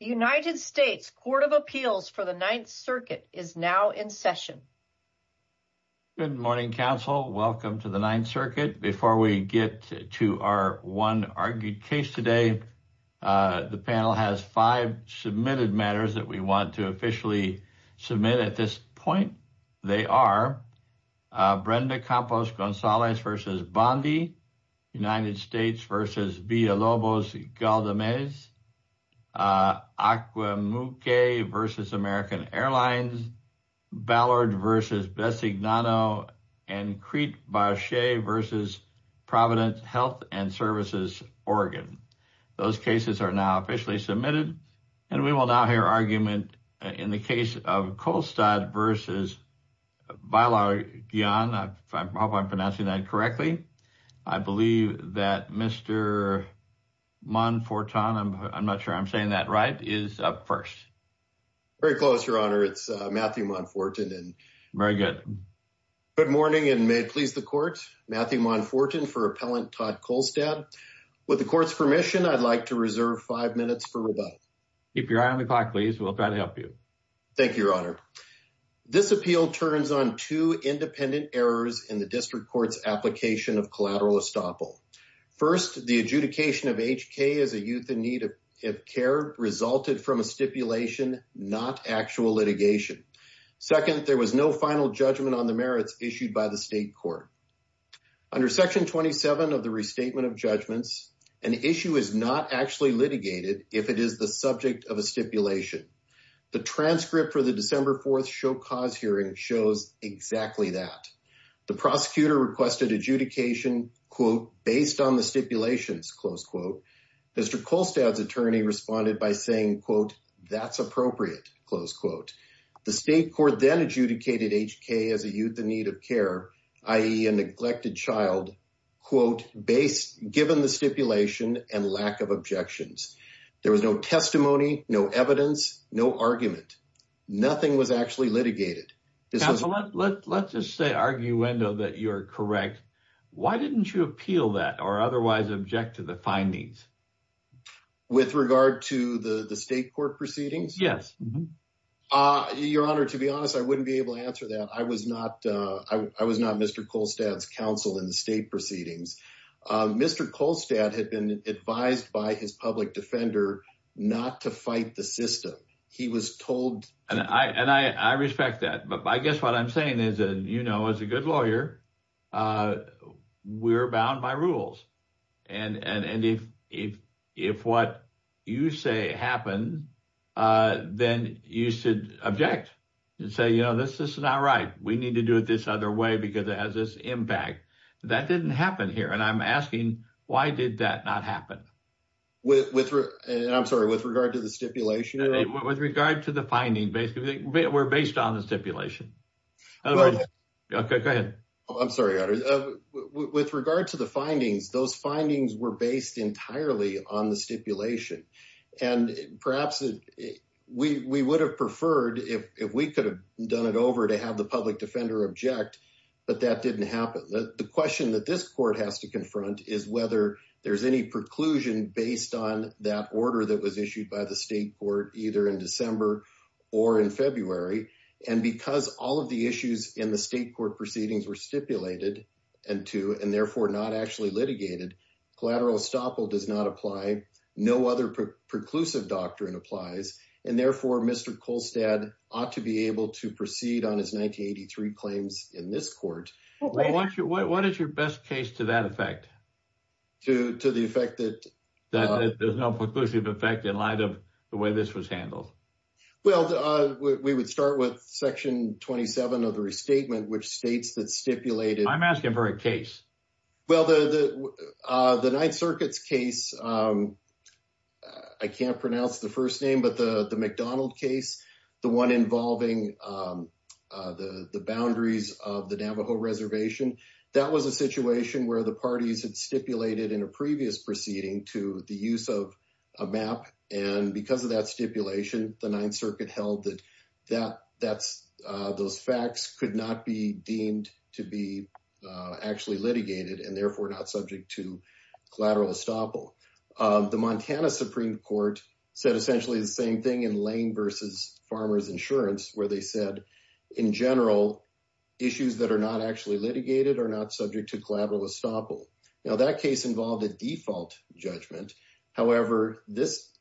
The United States Court of Appeals for the Ninth Circuit is now in session. Good morning, counsel. Welcome to the Ninth Circuit. Before we get to our one argued case today, the panel has five submitted matters that we want to officially submit at this point. They are Brenda Campos-Gonzalez v. Bondi, United States v. Villalobos-Galdamez, Acquamuque v. American Airlines, Ballard v. Besignano, and Crete-Barchet v. Providence Health and Services, Oregon. Those cases are now officially submitted, and we will now hear argument in the case of Kolstad v. Baillargeon, I hope I'm pronouncing that correctly. I believe that Mr. Monforton, I'm not sure I'm saying that right, is up first. Very close, Your Honor. It's Matthew Monforton. Very good. Good morning, and may it please the Court, Matthew Monforton for Appellant Todd Kolstad. With the Court's permission, I'd like to reserve five minutes for rebuttal. Keep your eye on the clock, please. We'll try to help you. Thank you, Your Honor. This appeal turns on two independent errors in the District Court's application of collateral estoppel. First, the adjudication of HK as a youth in need of care resulted from a stipulation, not actual litigation. Second, there was no final judgment on the merits issued by the State Court. Under Section 27 of the Restatement of Judgments, an issue is not actually litigated if it is the subject of a stipulation. The transcript for the December 4th Show Cause hearing shows exactly that. The prosecutor requested adjudication, quote, based on the stipulations, close quote. Mr. Kolstad's attorney responded by saying, quote, that's appropriate, close quote. The State Court then adjudicated HK as a youth in need of care, i.e. a neglected child, quote, given the stipulation and lack of objections. There was no testimony, no evidence, no argument. Nothing was actually litigated. Counselor, let's just say, arguendo, that you're correct. Why didn't you appeal that or otherwise object to the findings? With regard to the State Court proceedings? Yes. Your Honor, to be honest, I wouldn't be able to answer that. I was not Mr. Kolstad's counsel in the State proceedings. Mr. Kolstad had been advised by his public defender not to fight the system. He was told- And I respect that. But I guess what I'm saying is, you know, as a good lawyer, we're bound by rules. And if what you say happened, then you should object and say, you know, this is not right. We need to do it this other way because it has this impact. That didn't happen here. And I'm asking, why did that not happen? With regard to the stipulation? With regard to the finding, basically. We're based on the stipulation. Go ahead. I'm sorry, Your Honor. With regard to the findings, those findings were based entirely on the stipulation. And perhaps we would have preferred, if we could have done it over, to have the public defender object. But that didn't happen. The question that this court has to confront is whether there's any preclusion based on that order that was issued by the state court either in December or in February. And because all of the issues in the state court proceedings were stipulated and to, and therefore not actually litigated, collateral estoppel does not apply. No other preclusive doctrine applies. And therefore, Mr. Kolstad ought to be able to proceed on his 1983 claims in this court. Well, what is your best case to that effect? To the effect that? That there's no preclusive effect in light of the way this was handled. Well, we would start with section 27 of the restatement, which states that stipulated. I'm asking for a case. Well, the Ninth Circuit's case, I can't pronounce the first name, but the McDonald case, the one involving the boundaries of the Navajo reservation, that was a situation where the parties had stipulated in a previous proceeding to the use of a map. And because of that stipulation, the Ninth Circuit held that those facts could not be deemed to be actually litigated, and therefore not subject to collateral estoppel. The Montana Supreme Court said essentially the same thing in Lane versus Farmer's Insurance, where they said, in general, issues that are not actually litigated are not subject to collateral estoppel. Now, that case involved a default judgment. However, it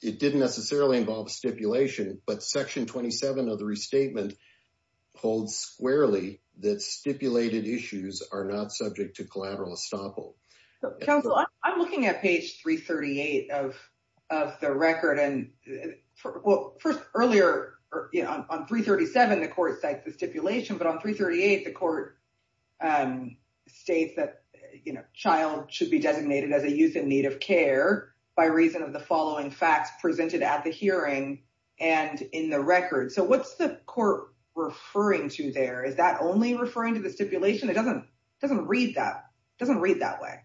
didn't necessarily involve stipulation, but section 27 of the restatement holds squarely that stipulated issues are not subject to collateral estoppel. Counsel, I'm looking at page 338 of the record, and well, first, earlier, on 337, the court cites the stipulation, but on 338, the court states that a child should be designated as a youth in need of care by reason of the following facts presented at the hearing and in the record. So what's the court referring to there? Is that only referring to the stipulation? It doesn't read that way.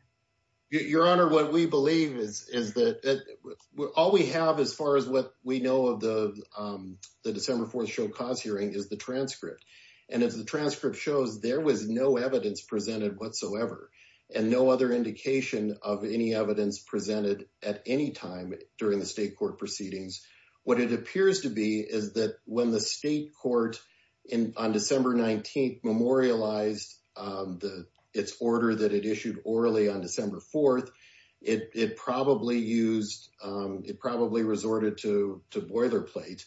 Your Honor, what we believe is that all we have, as far as what we know of the December 4th show cause hearing, is the transcript. And as the transcript shows, there was no evidence presented whatsoever, and no other indication of any evidence presented at any time during the state court proceedings. What it appears to be is that when the state court on December 19th memorialized its order that it issued orally on December 4th, it probably resorted to boilerplate.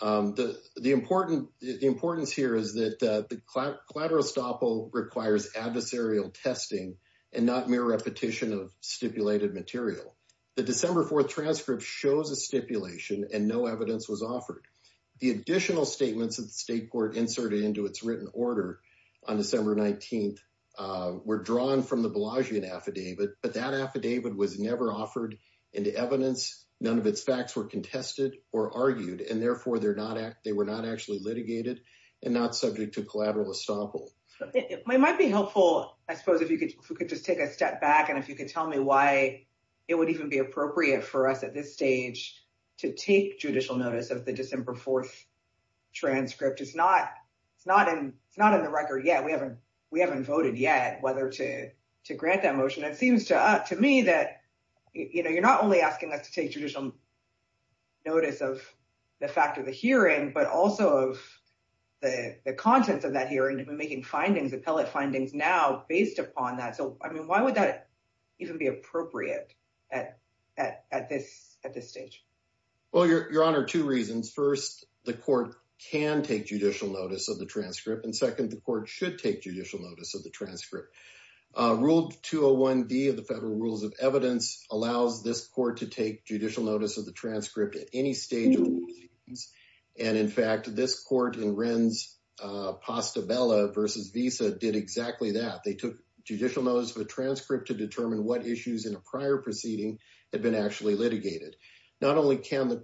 The importance here is that the collateral estoppel requires adversarial testing and not mere repetition of stipulated material. The December 4th transcript shows a stipulation and no evidence was offered. The additional statements of the state court inserted into its written order on December 19th were drawn from the Bellagio affidavit, but that affidavit was never offered into evidence. None of its facts were contested or argued, and therefore they were not actually litigated and not subject to collateral estoppel. It might be helpful, I suppose, if you could just take a step back and if you could tell me why it would even be appropriate for us at this stage to take judicial notice of the December 4th transcript. It's not in the record yet. We haven't voted yet whether to grant that motion. It seems to me that you're not only asking us to take judicial notice of the fact of the hearing, but also of the contents of that hearing and making findings, appellate findings now based upon that. So, I mean, why would that even be appropriate at this stage? Well, Your Honor, two reasons. First, the court can take judicial notice of the transcript. And second, the court should take judicial notice of the transcript. Rule 201D of the Federal Rules of Evidence allows this court to take judicial notice of the transcript at any stage of proceedings. And in fact, this court in Renz-Pastabella v. Visa did exactly that. They took judicial notice of a transcript to determine what issues in a prior proceeding had been actually litigated. Not only is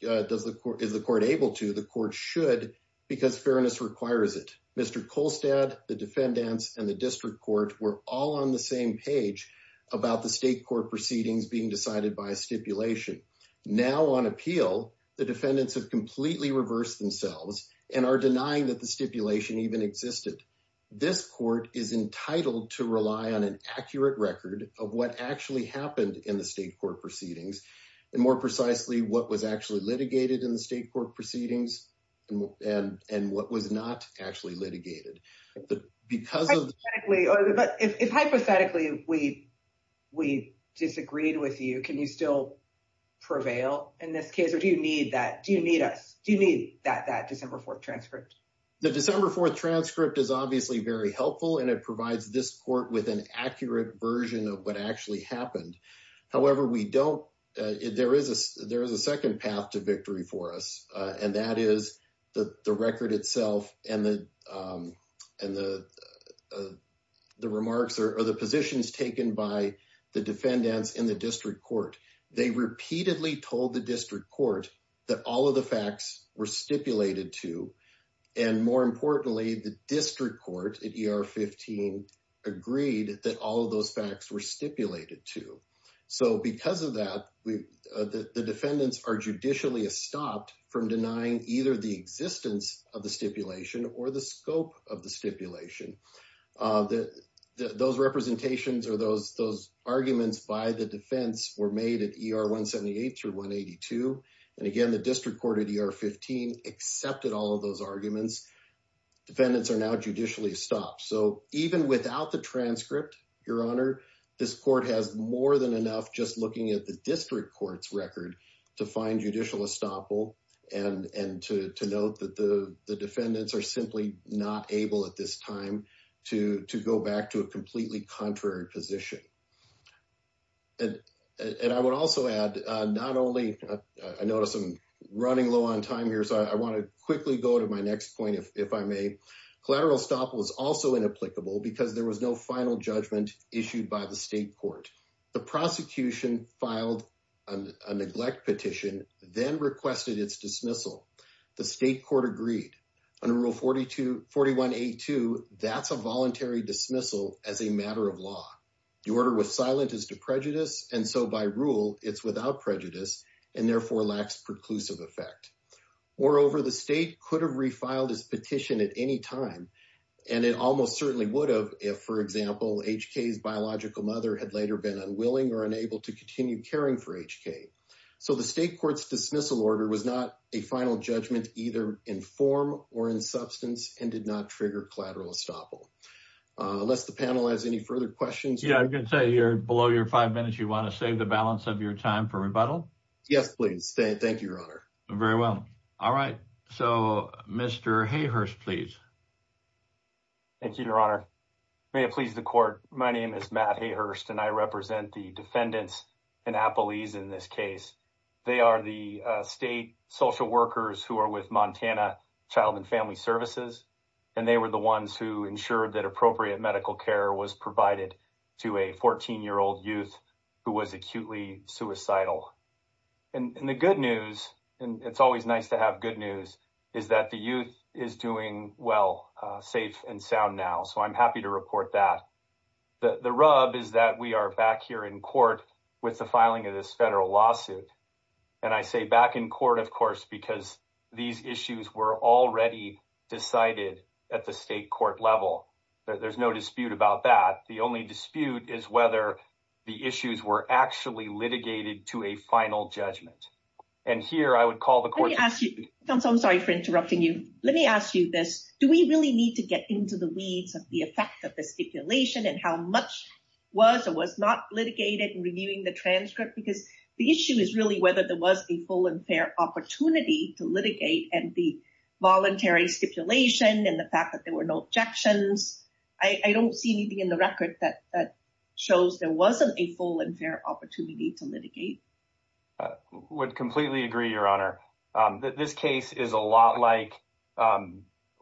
the court able to, the court should because fairness requires it. Mr. Kolstad, the defendants, and the district court were all on the same page about the state court proceedings being decided by a stipulation. Now, on appeal, the defendants have completely reversed themselves and are denying that the stipulation even existed. This court is entitled to rely on an accurate record of what actually happened in the state court proceedings, and more precisely, what was actually litigated in the state court proceedings, and what was not actually litigated. Hypothetically, if hypothetically we disagreed with you, can you still prevail in this case, or do you need that, do you need us, do you need that December 4th transcript? The December 4th transcript is obviously very helpful, and it provides this court with an accurate version of what actually happened. However, we don't, there is a second path to victory for us, and that is the record itself and the remarks or the positions taken by the defendants in the district court. They repeatedly told the district court that all of the facts were stipulated to, and more importantly, the district court at ER 15 agreed that all of those facts were stipulated to. So, because of that, the defendants are judicially stopped from denying either the existence of the stipulation or the scope of the stipulation. Those representations or those arguments by the defense were made at ER 178 through 182, and again, the district court at ER 15 accepted all of those arguments. Defendants are now judicially stopped, so even without the transcript, your honor, this court has more than enough just looking at the district court's record to find judicial estoppel, and to note that the defendants are simply not able at this time to go back to a completely contrary position. And I would also add, not only, I notice I'm running low on time here, so I want to quickly go to my next point, if I may. Collateral estoppel was also inapplicable because there was no final judgment issued by the state court. The prosecution filed a neglect petition, then requested its dismissal. The state court agreed. Under Rule 4182, that's a voluntary dismissal as a matter of law. The order was silent as to prejudice, and so by rule, it's without prejudice and therefore lacks preclusive effect. Moreover, the state could have refiled his petition at any time, and it almost certainly would have if, for example, H.K.'s biological mother had later been unwilling or unable to continue caring for H.K. So the state court's dismissal order was not a final judgment, either in form or in substance, and did not trigger collateral estoppel. Unless the panel has any further questions. Yeah, I'm going to say you're below your five minutes. You want to save the balance of your time for rebuttal? Yes, please. Thank you, your honor. Very well. All right. So, Mr. Hayhurst, please. Thank you, your honor. May it please the court. My name is Matt Hayhurst, and I represent the defendants and appellees in this case. They are the state social workers who are with Montana Child and Family Services, and they were the ones who ensured that appropriate medical care was provided to a 14-year-old youth who was acutely suicidal. And the good news, and it's always nice to have good news, is that the youth is doing well, safe and sound now. So I'm happy to report that. The rub is that we are back here in court with the filing of this federal lawsuit. And I say back in court, of course, because these issues were already decided at the state court level. There's no dispute about that. The only dispute is whether the issues were actually litigated to a final judgment. And here, I would call the court. Let me ask you, counsel, I'm sorry for interrupting you. Let me ask you this. Do we really need to get into the weeds of the effect of the stipulation and how much was or was not litigated in reviewing the transcript? Because the issue is really whether there was a full and fair opportunity to litigate and the voluntary stipulation and the fact that there were no objections. I don't see anything in the record that shows there wasn't a full and fair opportunity to litigate. I would completely agree, Your Honor. This case is a lot like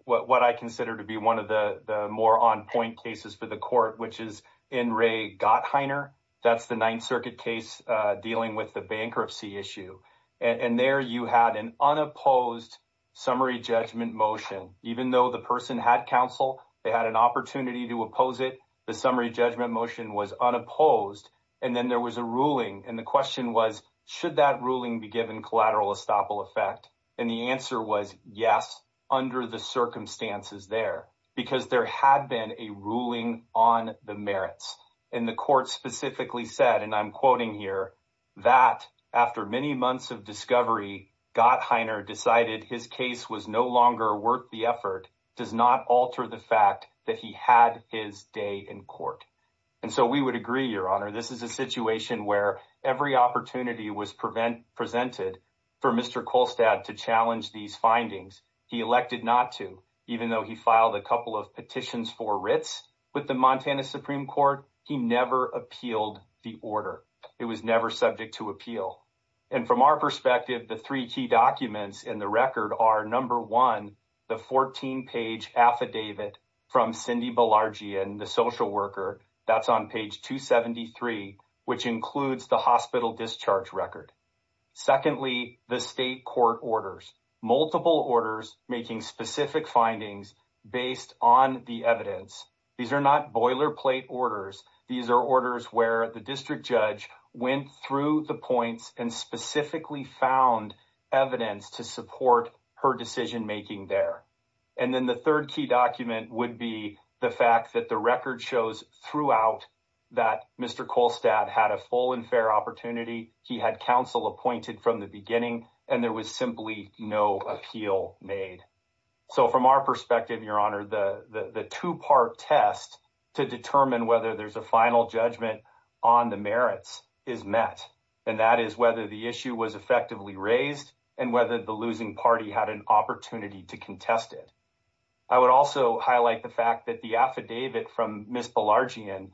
what I consider to be one of the more on point cases for the court, which is in Ray Gottheiner. That's the Ninth Circuit case dealing with the bankruptcy issue. And there you had an unopposed summary judgment motion. Even though the person had counsel, they had an opportunity to oppose it. The summary judgment motion was unopposed. And then there was a ruling. And the question was, should that ruling be given collateral estoppel effect? And the answer was yes, under the circumstances there, because there had been a ruling on the merits. And the court specifically said, and I'm quoting here, that after many months of discovery, Gottheiner decided his case was no longer worth the effort, does not alter the fact that he had his day in court. And so we would agree, Your Honor, this is a situation where every opportunity was presented for Mr. Kolstad to challenge these findings. He elected not to, even though he filed a couple of petitions for writs with the Montana Supreme Court, he never appealed the order. It was never subject to appeal. And from our perspective, the three key documents in the record are, number one, the 14-page affidavit from Cindy Balargian, the social worker. That's on page 273, which includes the hospital discharge record. Secondly, the state court orders. Multiple orders making specific findings based on the evidence. These are not boilerplate orders. These are orders where the district judge went through the points and specifically found evidence to support her decision-making there. And then the third key document would be the fact that the record shows throughout that Mr. Kolstad had a full and fair opportunity. He had counsel appointed from the beginning, and there was simply no appeal made. So from our perspective, Your Honor, the two-part test to determine whether there's a final judgment on the merits is met. And that is whether the issue was effectively raised and whether the losing party had an opportunity to contest it. I would also highlight the fact that the affidavit from Ms. Balargian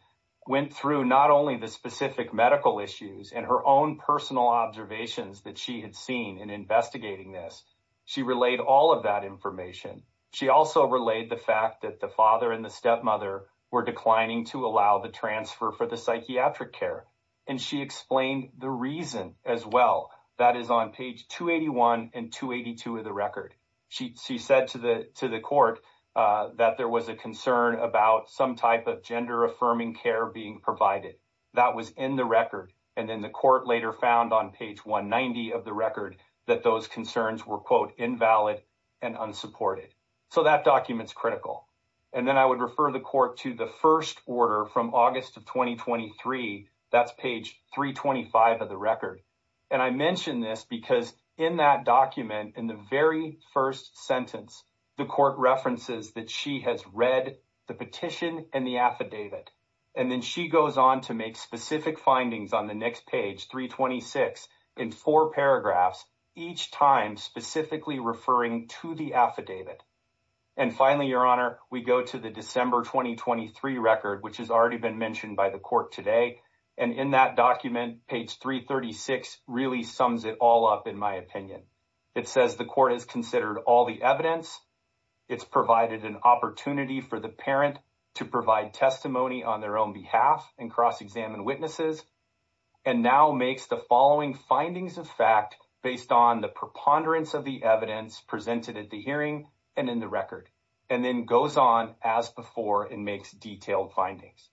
went through not only the specific medical issues and her own personal observations that she had seen in investigating this. She relayed all of that information. She also relayed the fact that the father and the stepmother were declining to allow the transfer for the psychiatric care. And she explained the reason as well. That is on page 281 and 282 of the record. She said to the court that there was a concern about some type of gender-affirming care being provided. That was in the record. And then the court later found on page 190 of the record that those concerns were, quote, invalid and unsupported. So that document's critical. And then I would refer the court to the first order from August of 2023. That's page 325 of the record. And I mention this because in that document, in the very first sentence, the court references that she has read the petition and the affidavit. And then she goes on to make specific findings on the next page, 326, in four paragraphs, each time specifically referring to the affidavit. And finally, Your Honor, we go to the December 2023 record, which has already been mentioned by the court today. And in that document, page 336 really sums it all up, in my opinion. It says the court has considered all the evidence. It's provided an opportunity for the parent to provide testimony on their own behalf and cross-examine witnesses. And now makes the following findings of fact based on the preponderance of the evidence presented at the hearing and in the record. And then goes on as before and makes detailed findings.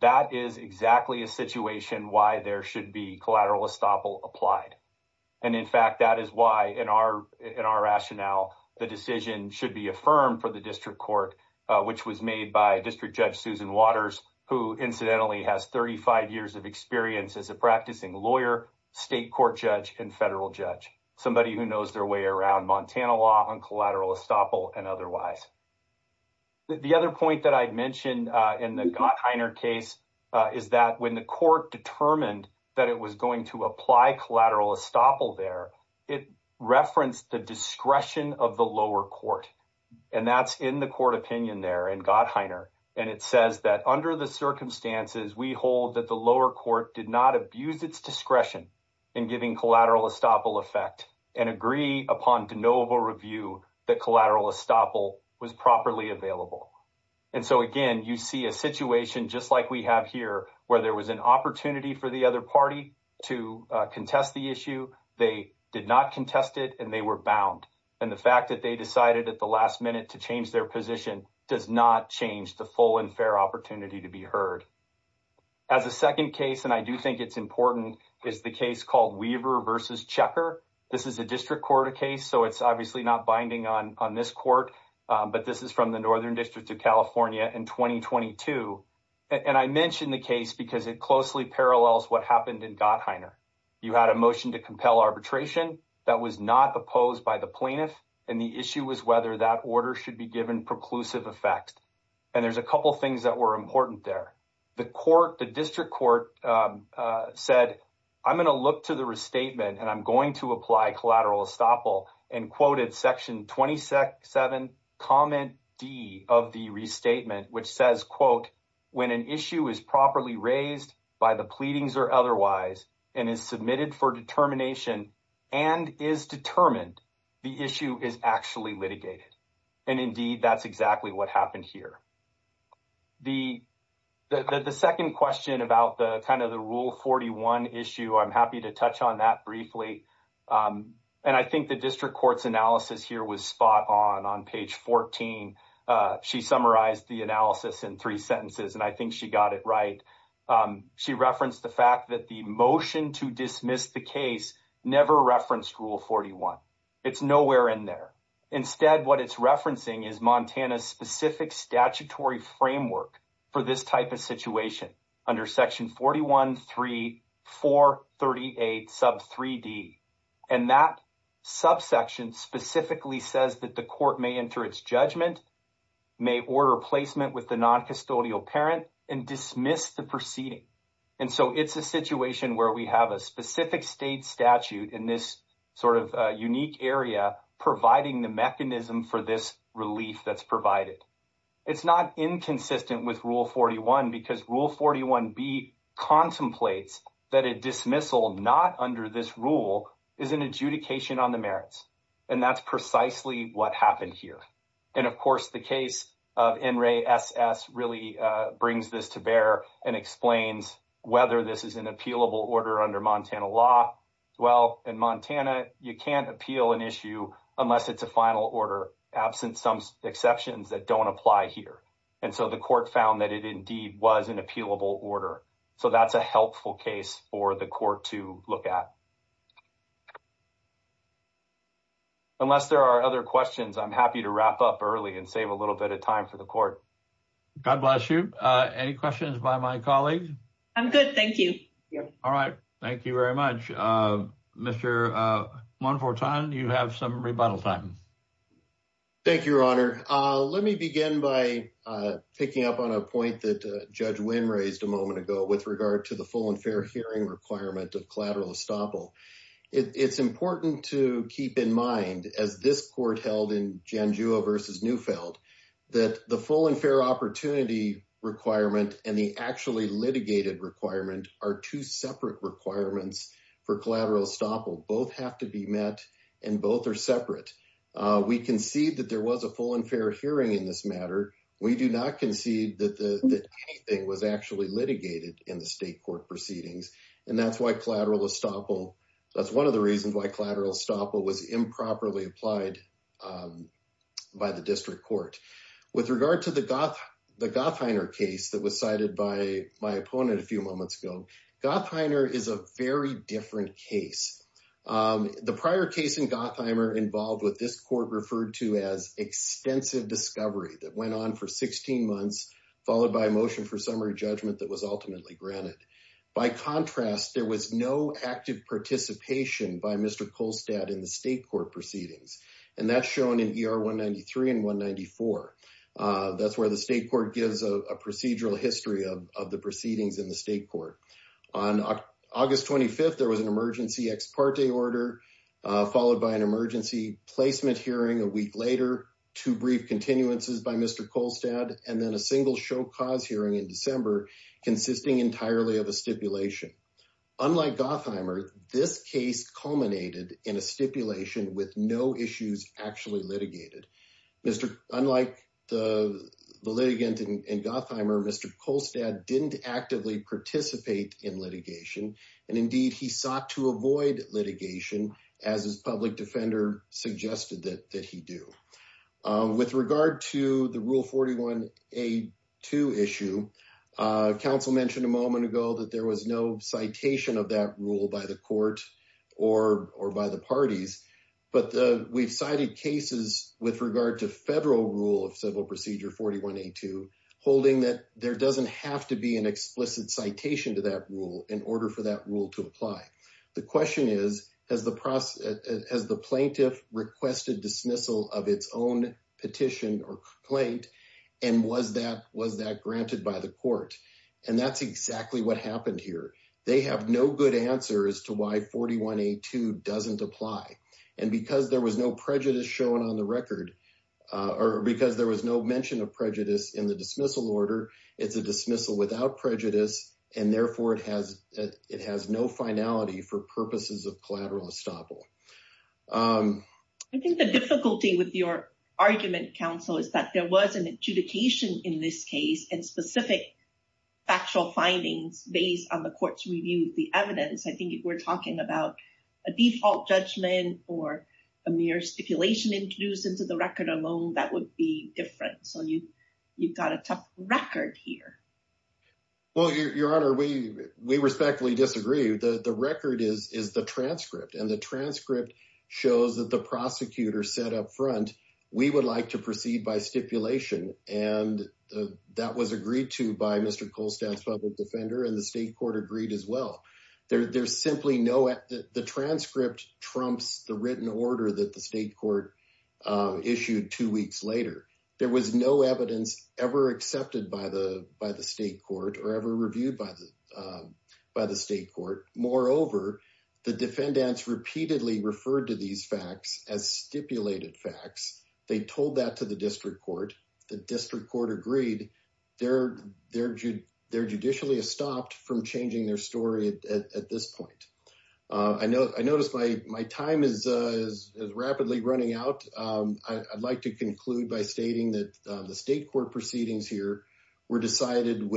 That is exactly a situation why there should be collateral estoppel applied. And in fact, that is why in our rationale, the decision should be affirmed for the district court, which was made by District Judge Susan Waters, who incidentally has 35 years of experience as a practicing lawyer, state court judge, and federal judge. Somebody who knows their way around Montana law on collateral estoppel and otherwise. The other point that I'd mentioned in the Gottheiner case is that when the court determined that it was going to apply collateral estoppel there, it referenced the discretion of the lower court. And that's in the court opinion there in Gottheiner. And it says that under the circumstances, we hold that the lower court did not abuse its discretion in giving collateral estoppel effect and agree upon de novo review that collateral estoppel was properly available. And so again, you see a situation just like we have here where there was an opportunity for the other party to contest the issue. They did not contest it and they were bound. And the fact that they decided at the last minute to change their position does not change the full and fair opportunity to be heard. As a second case, and I do think it's important, is the case called Weaver versus Checker. This is a district court case, so it's obviously not binding on this court. But this is from the Northern District of California in 2022. And I mentioned the case because it closely parallels what happened in Gottheiner. You had a motion to compel arbitration that was not opposed by the plaintiff. And the issue was whether that order should be given preclusive effect. And there's a couple things that were important there. The court, the district court said, I'm going to look to the restatement and I'm going to apply collateral estoppel. And quoted section 27, comment D of the restatement, which says, quote, when an issue is properly raised by the pleadings or otherwise and is submitted for determination and is determined, the issue is actually litigated. And indeed, that's exactly what happened here. The second question about the kind of the Rule 41 issue, I'm happy to touch on that briefly. And I think the district court's analysis here was spot on. On page 14, she summarized the analysis in three sentences, and I think she got it right. She referenced the fact that the motion to dismiss the case never referenced Rule 41. It's nowhere in there. Instead, what it's referencing is Montana's specific statutory framework for this type of situation under section 41, 3, 4, 38, sub 3D. And that subsection specifically says that the court may enter its judgment, may order placement with the noncustodial parent and dismiss the proceeding. And so it's a situation where we have a specific state statute in this sort of unique area providing the mechanism for this relief that's provided. It's not inconsistent with Rule 41 because Rule 41B contemplates that a dismissal not under this rule is an adjudication on the merits. And that's precisely what happened here. And of course, the case of NRASS really brings this to bear and explains whether this is an appealable order under Montana law. Well, in Montana, you can't appeal an issue unless it's a final order, absent some exceptions that don't apply here. And so the court found that it indeed was an appealable order. So that's a helpful case for the court to look at. Unless there are other questions, I'm happy to wrap up early and save a little bit of time for the court. God bless you. Any questions by my colleagues? I'm good, thank you. All right. Thank you very much. Mr. Montforton, you have some rebuttal time. Thank you, Your Honor. Let me begin by picking up on a point that Judge Wynn raised a moment ago with regard to the full and fair hearing requirement of collateral estoppel. It's important to keep in mind, as this court held in Janjua versus Neufeld, that the full and fair opportunity requirement and the actually litigated requirement are two separate requirements for collateral estoppel. Both have to be met and both are separate. We concede that there was a full and fair hearing in this matter. We do not concede that anything was actually litigated in the state court proceedings. And that's why collateral estoppel, that's one of the reasons why collateral estoppel was improperly applied by the district court. With regard to the Gottheimer case that was cited by my opponent a few moments ago, Gottheimer is a very different case. The prior case in Gottheimer involved what this court referred to as extensive discovery that went on for 16 months, followed by a motion for summary judgment that was ultimately granted. By contrast, there was no active participation by Mr. Kolstad in the state court proceedings. And that's shown in ER 193 and 194. That's where the state court gives a procedural history of the proceedings in the state court. On August 25th, there was an emergency ex parte order, followed by an emergency placement hearing a week later, two brief continuances by Mr. Kolstad, and then a single show cause hearing in December consisting entirely of a stipulation. Unlike Gottheimer, this case culminated in a stipulation with no issues actually litigated. Unlike the litigant in Gottheimer, Mr. Kolstad didn't actively participate in litigation. And indeed, he sought to avoid litigation as his public defender suggested that he do. With regard to the Rule 41A2 issue, counsel mentioned a moment ago that there was no citation of that rule by the court or by the parties. But we've cited cases with regard to federal rule of civil procedure 41A2, holding that there doesn't have to be an explicit citation to that rule in order for that rule to apply. The question is, has the plaintiff requested dismissal of its own petition or complaint? And was that granted by the court? And that's exactly what happened here. They have no good answer as to why 41A2 doesn't apply. And because there was no prejudice shown on the record, or because there was no mention of prejudice in the dismissal order, it's a dismissal without prejudice. And therefore, it has no finality for purposes of collateral estoppel. I think the difficulty with your argument, counsel, is that there was an adjudication in this case and specific factual findings based on the court's review of the evidence. I think if we're talking about a default judgment or a mere stipulation introduced into the record alone, that would be different. So you've got a tough record here. Well, Your Honor, we respectfully disagree. The record is the transcript. And the transcript shows that the prosecutor said up front, we would like to proceed by stipulation. And that was agreed to by Mr. Kohlstadt's public defender. And the state court agreed as well. There's simply no... The transcript trumps the written order that the state court issued two weeks later. There was no evidence ever accepted by the state court or ever reviewed by the state court. Moreover, the defendants repeatedly referred to these facts as stipulated facts. They told that to the district court. The district court agreed. They're judicially stopped from changing their story at this point. I noticed my time is rapidly running out. I'd like to conclude by stating that the state court proceedings here were decided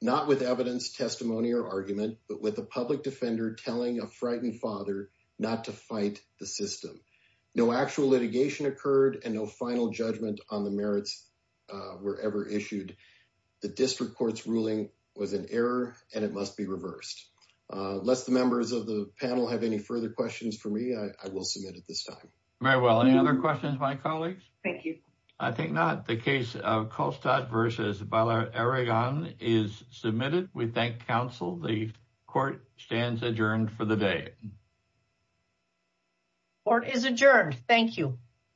not with evidence, testimony or argument, but with a public defender telling a frightened father not to fight the system. No actual litigation occurred and no final judgment on the merits were ever issued. The district court's ruling was an error and it must be reversed. Lest the members of the panel have any further questions for me, I will submit at this time. Very well. Any other questions, my colleagues? Thank you. I think not. The case of Kolstadt v. Bailarigán is submitted. We thank counsel. The court stands adjourned for the day. Court is adjourned. Thank you.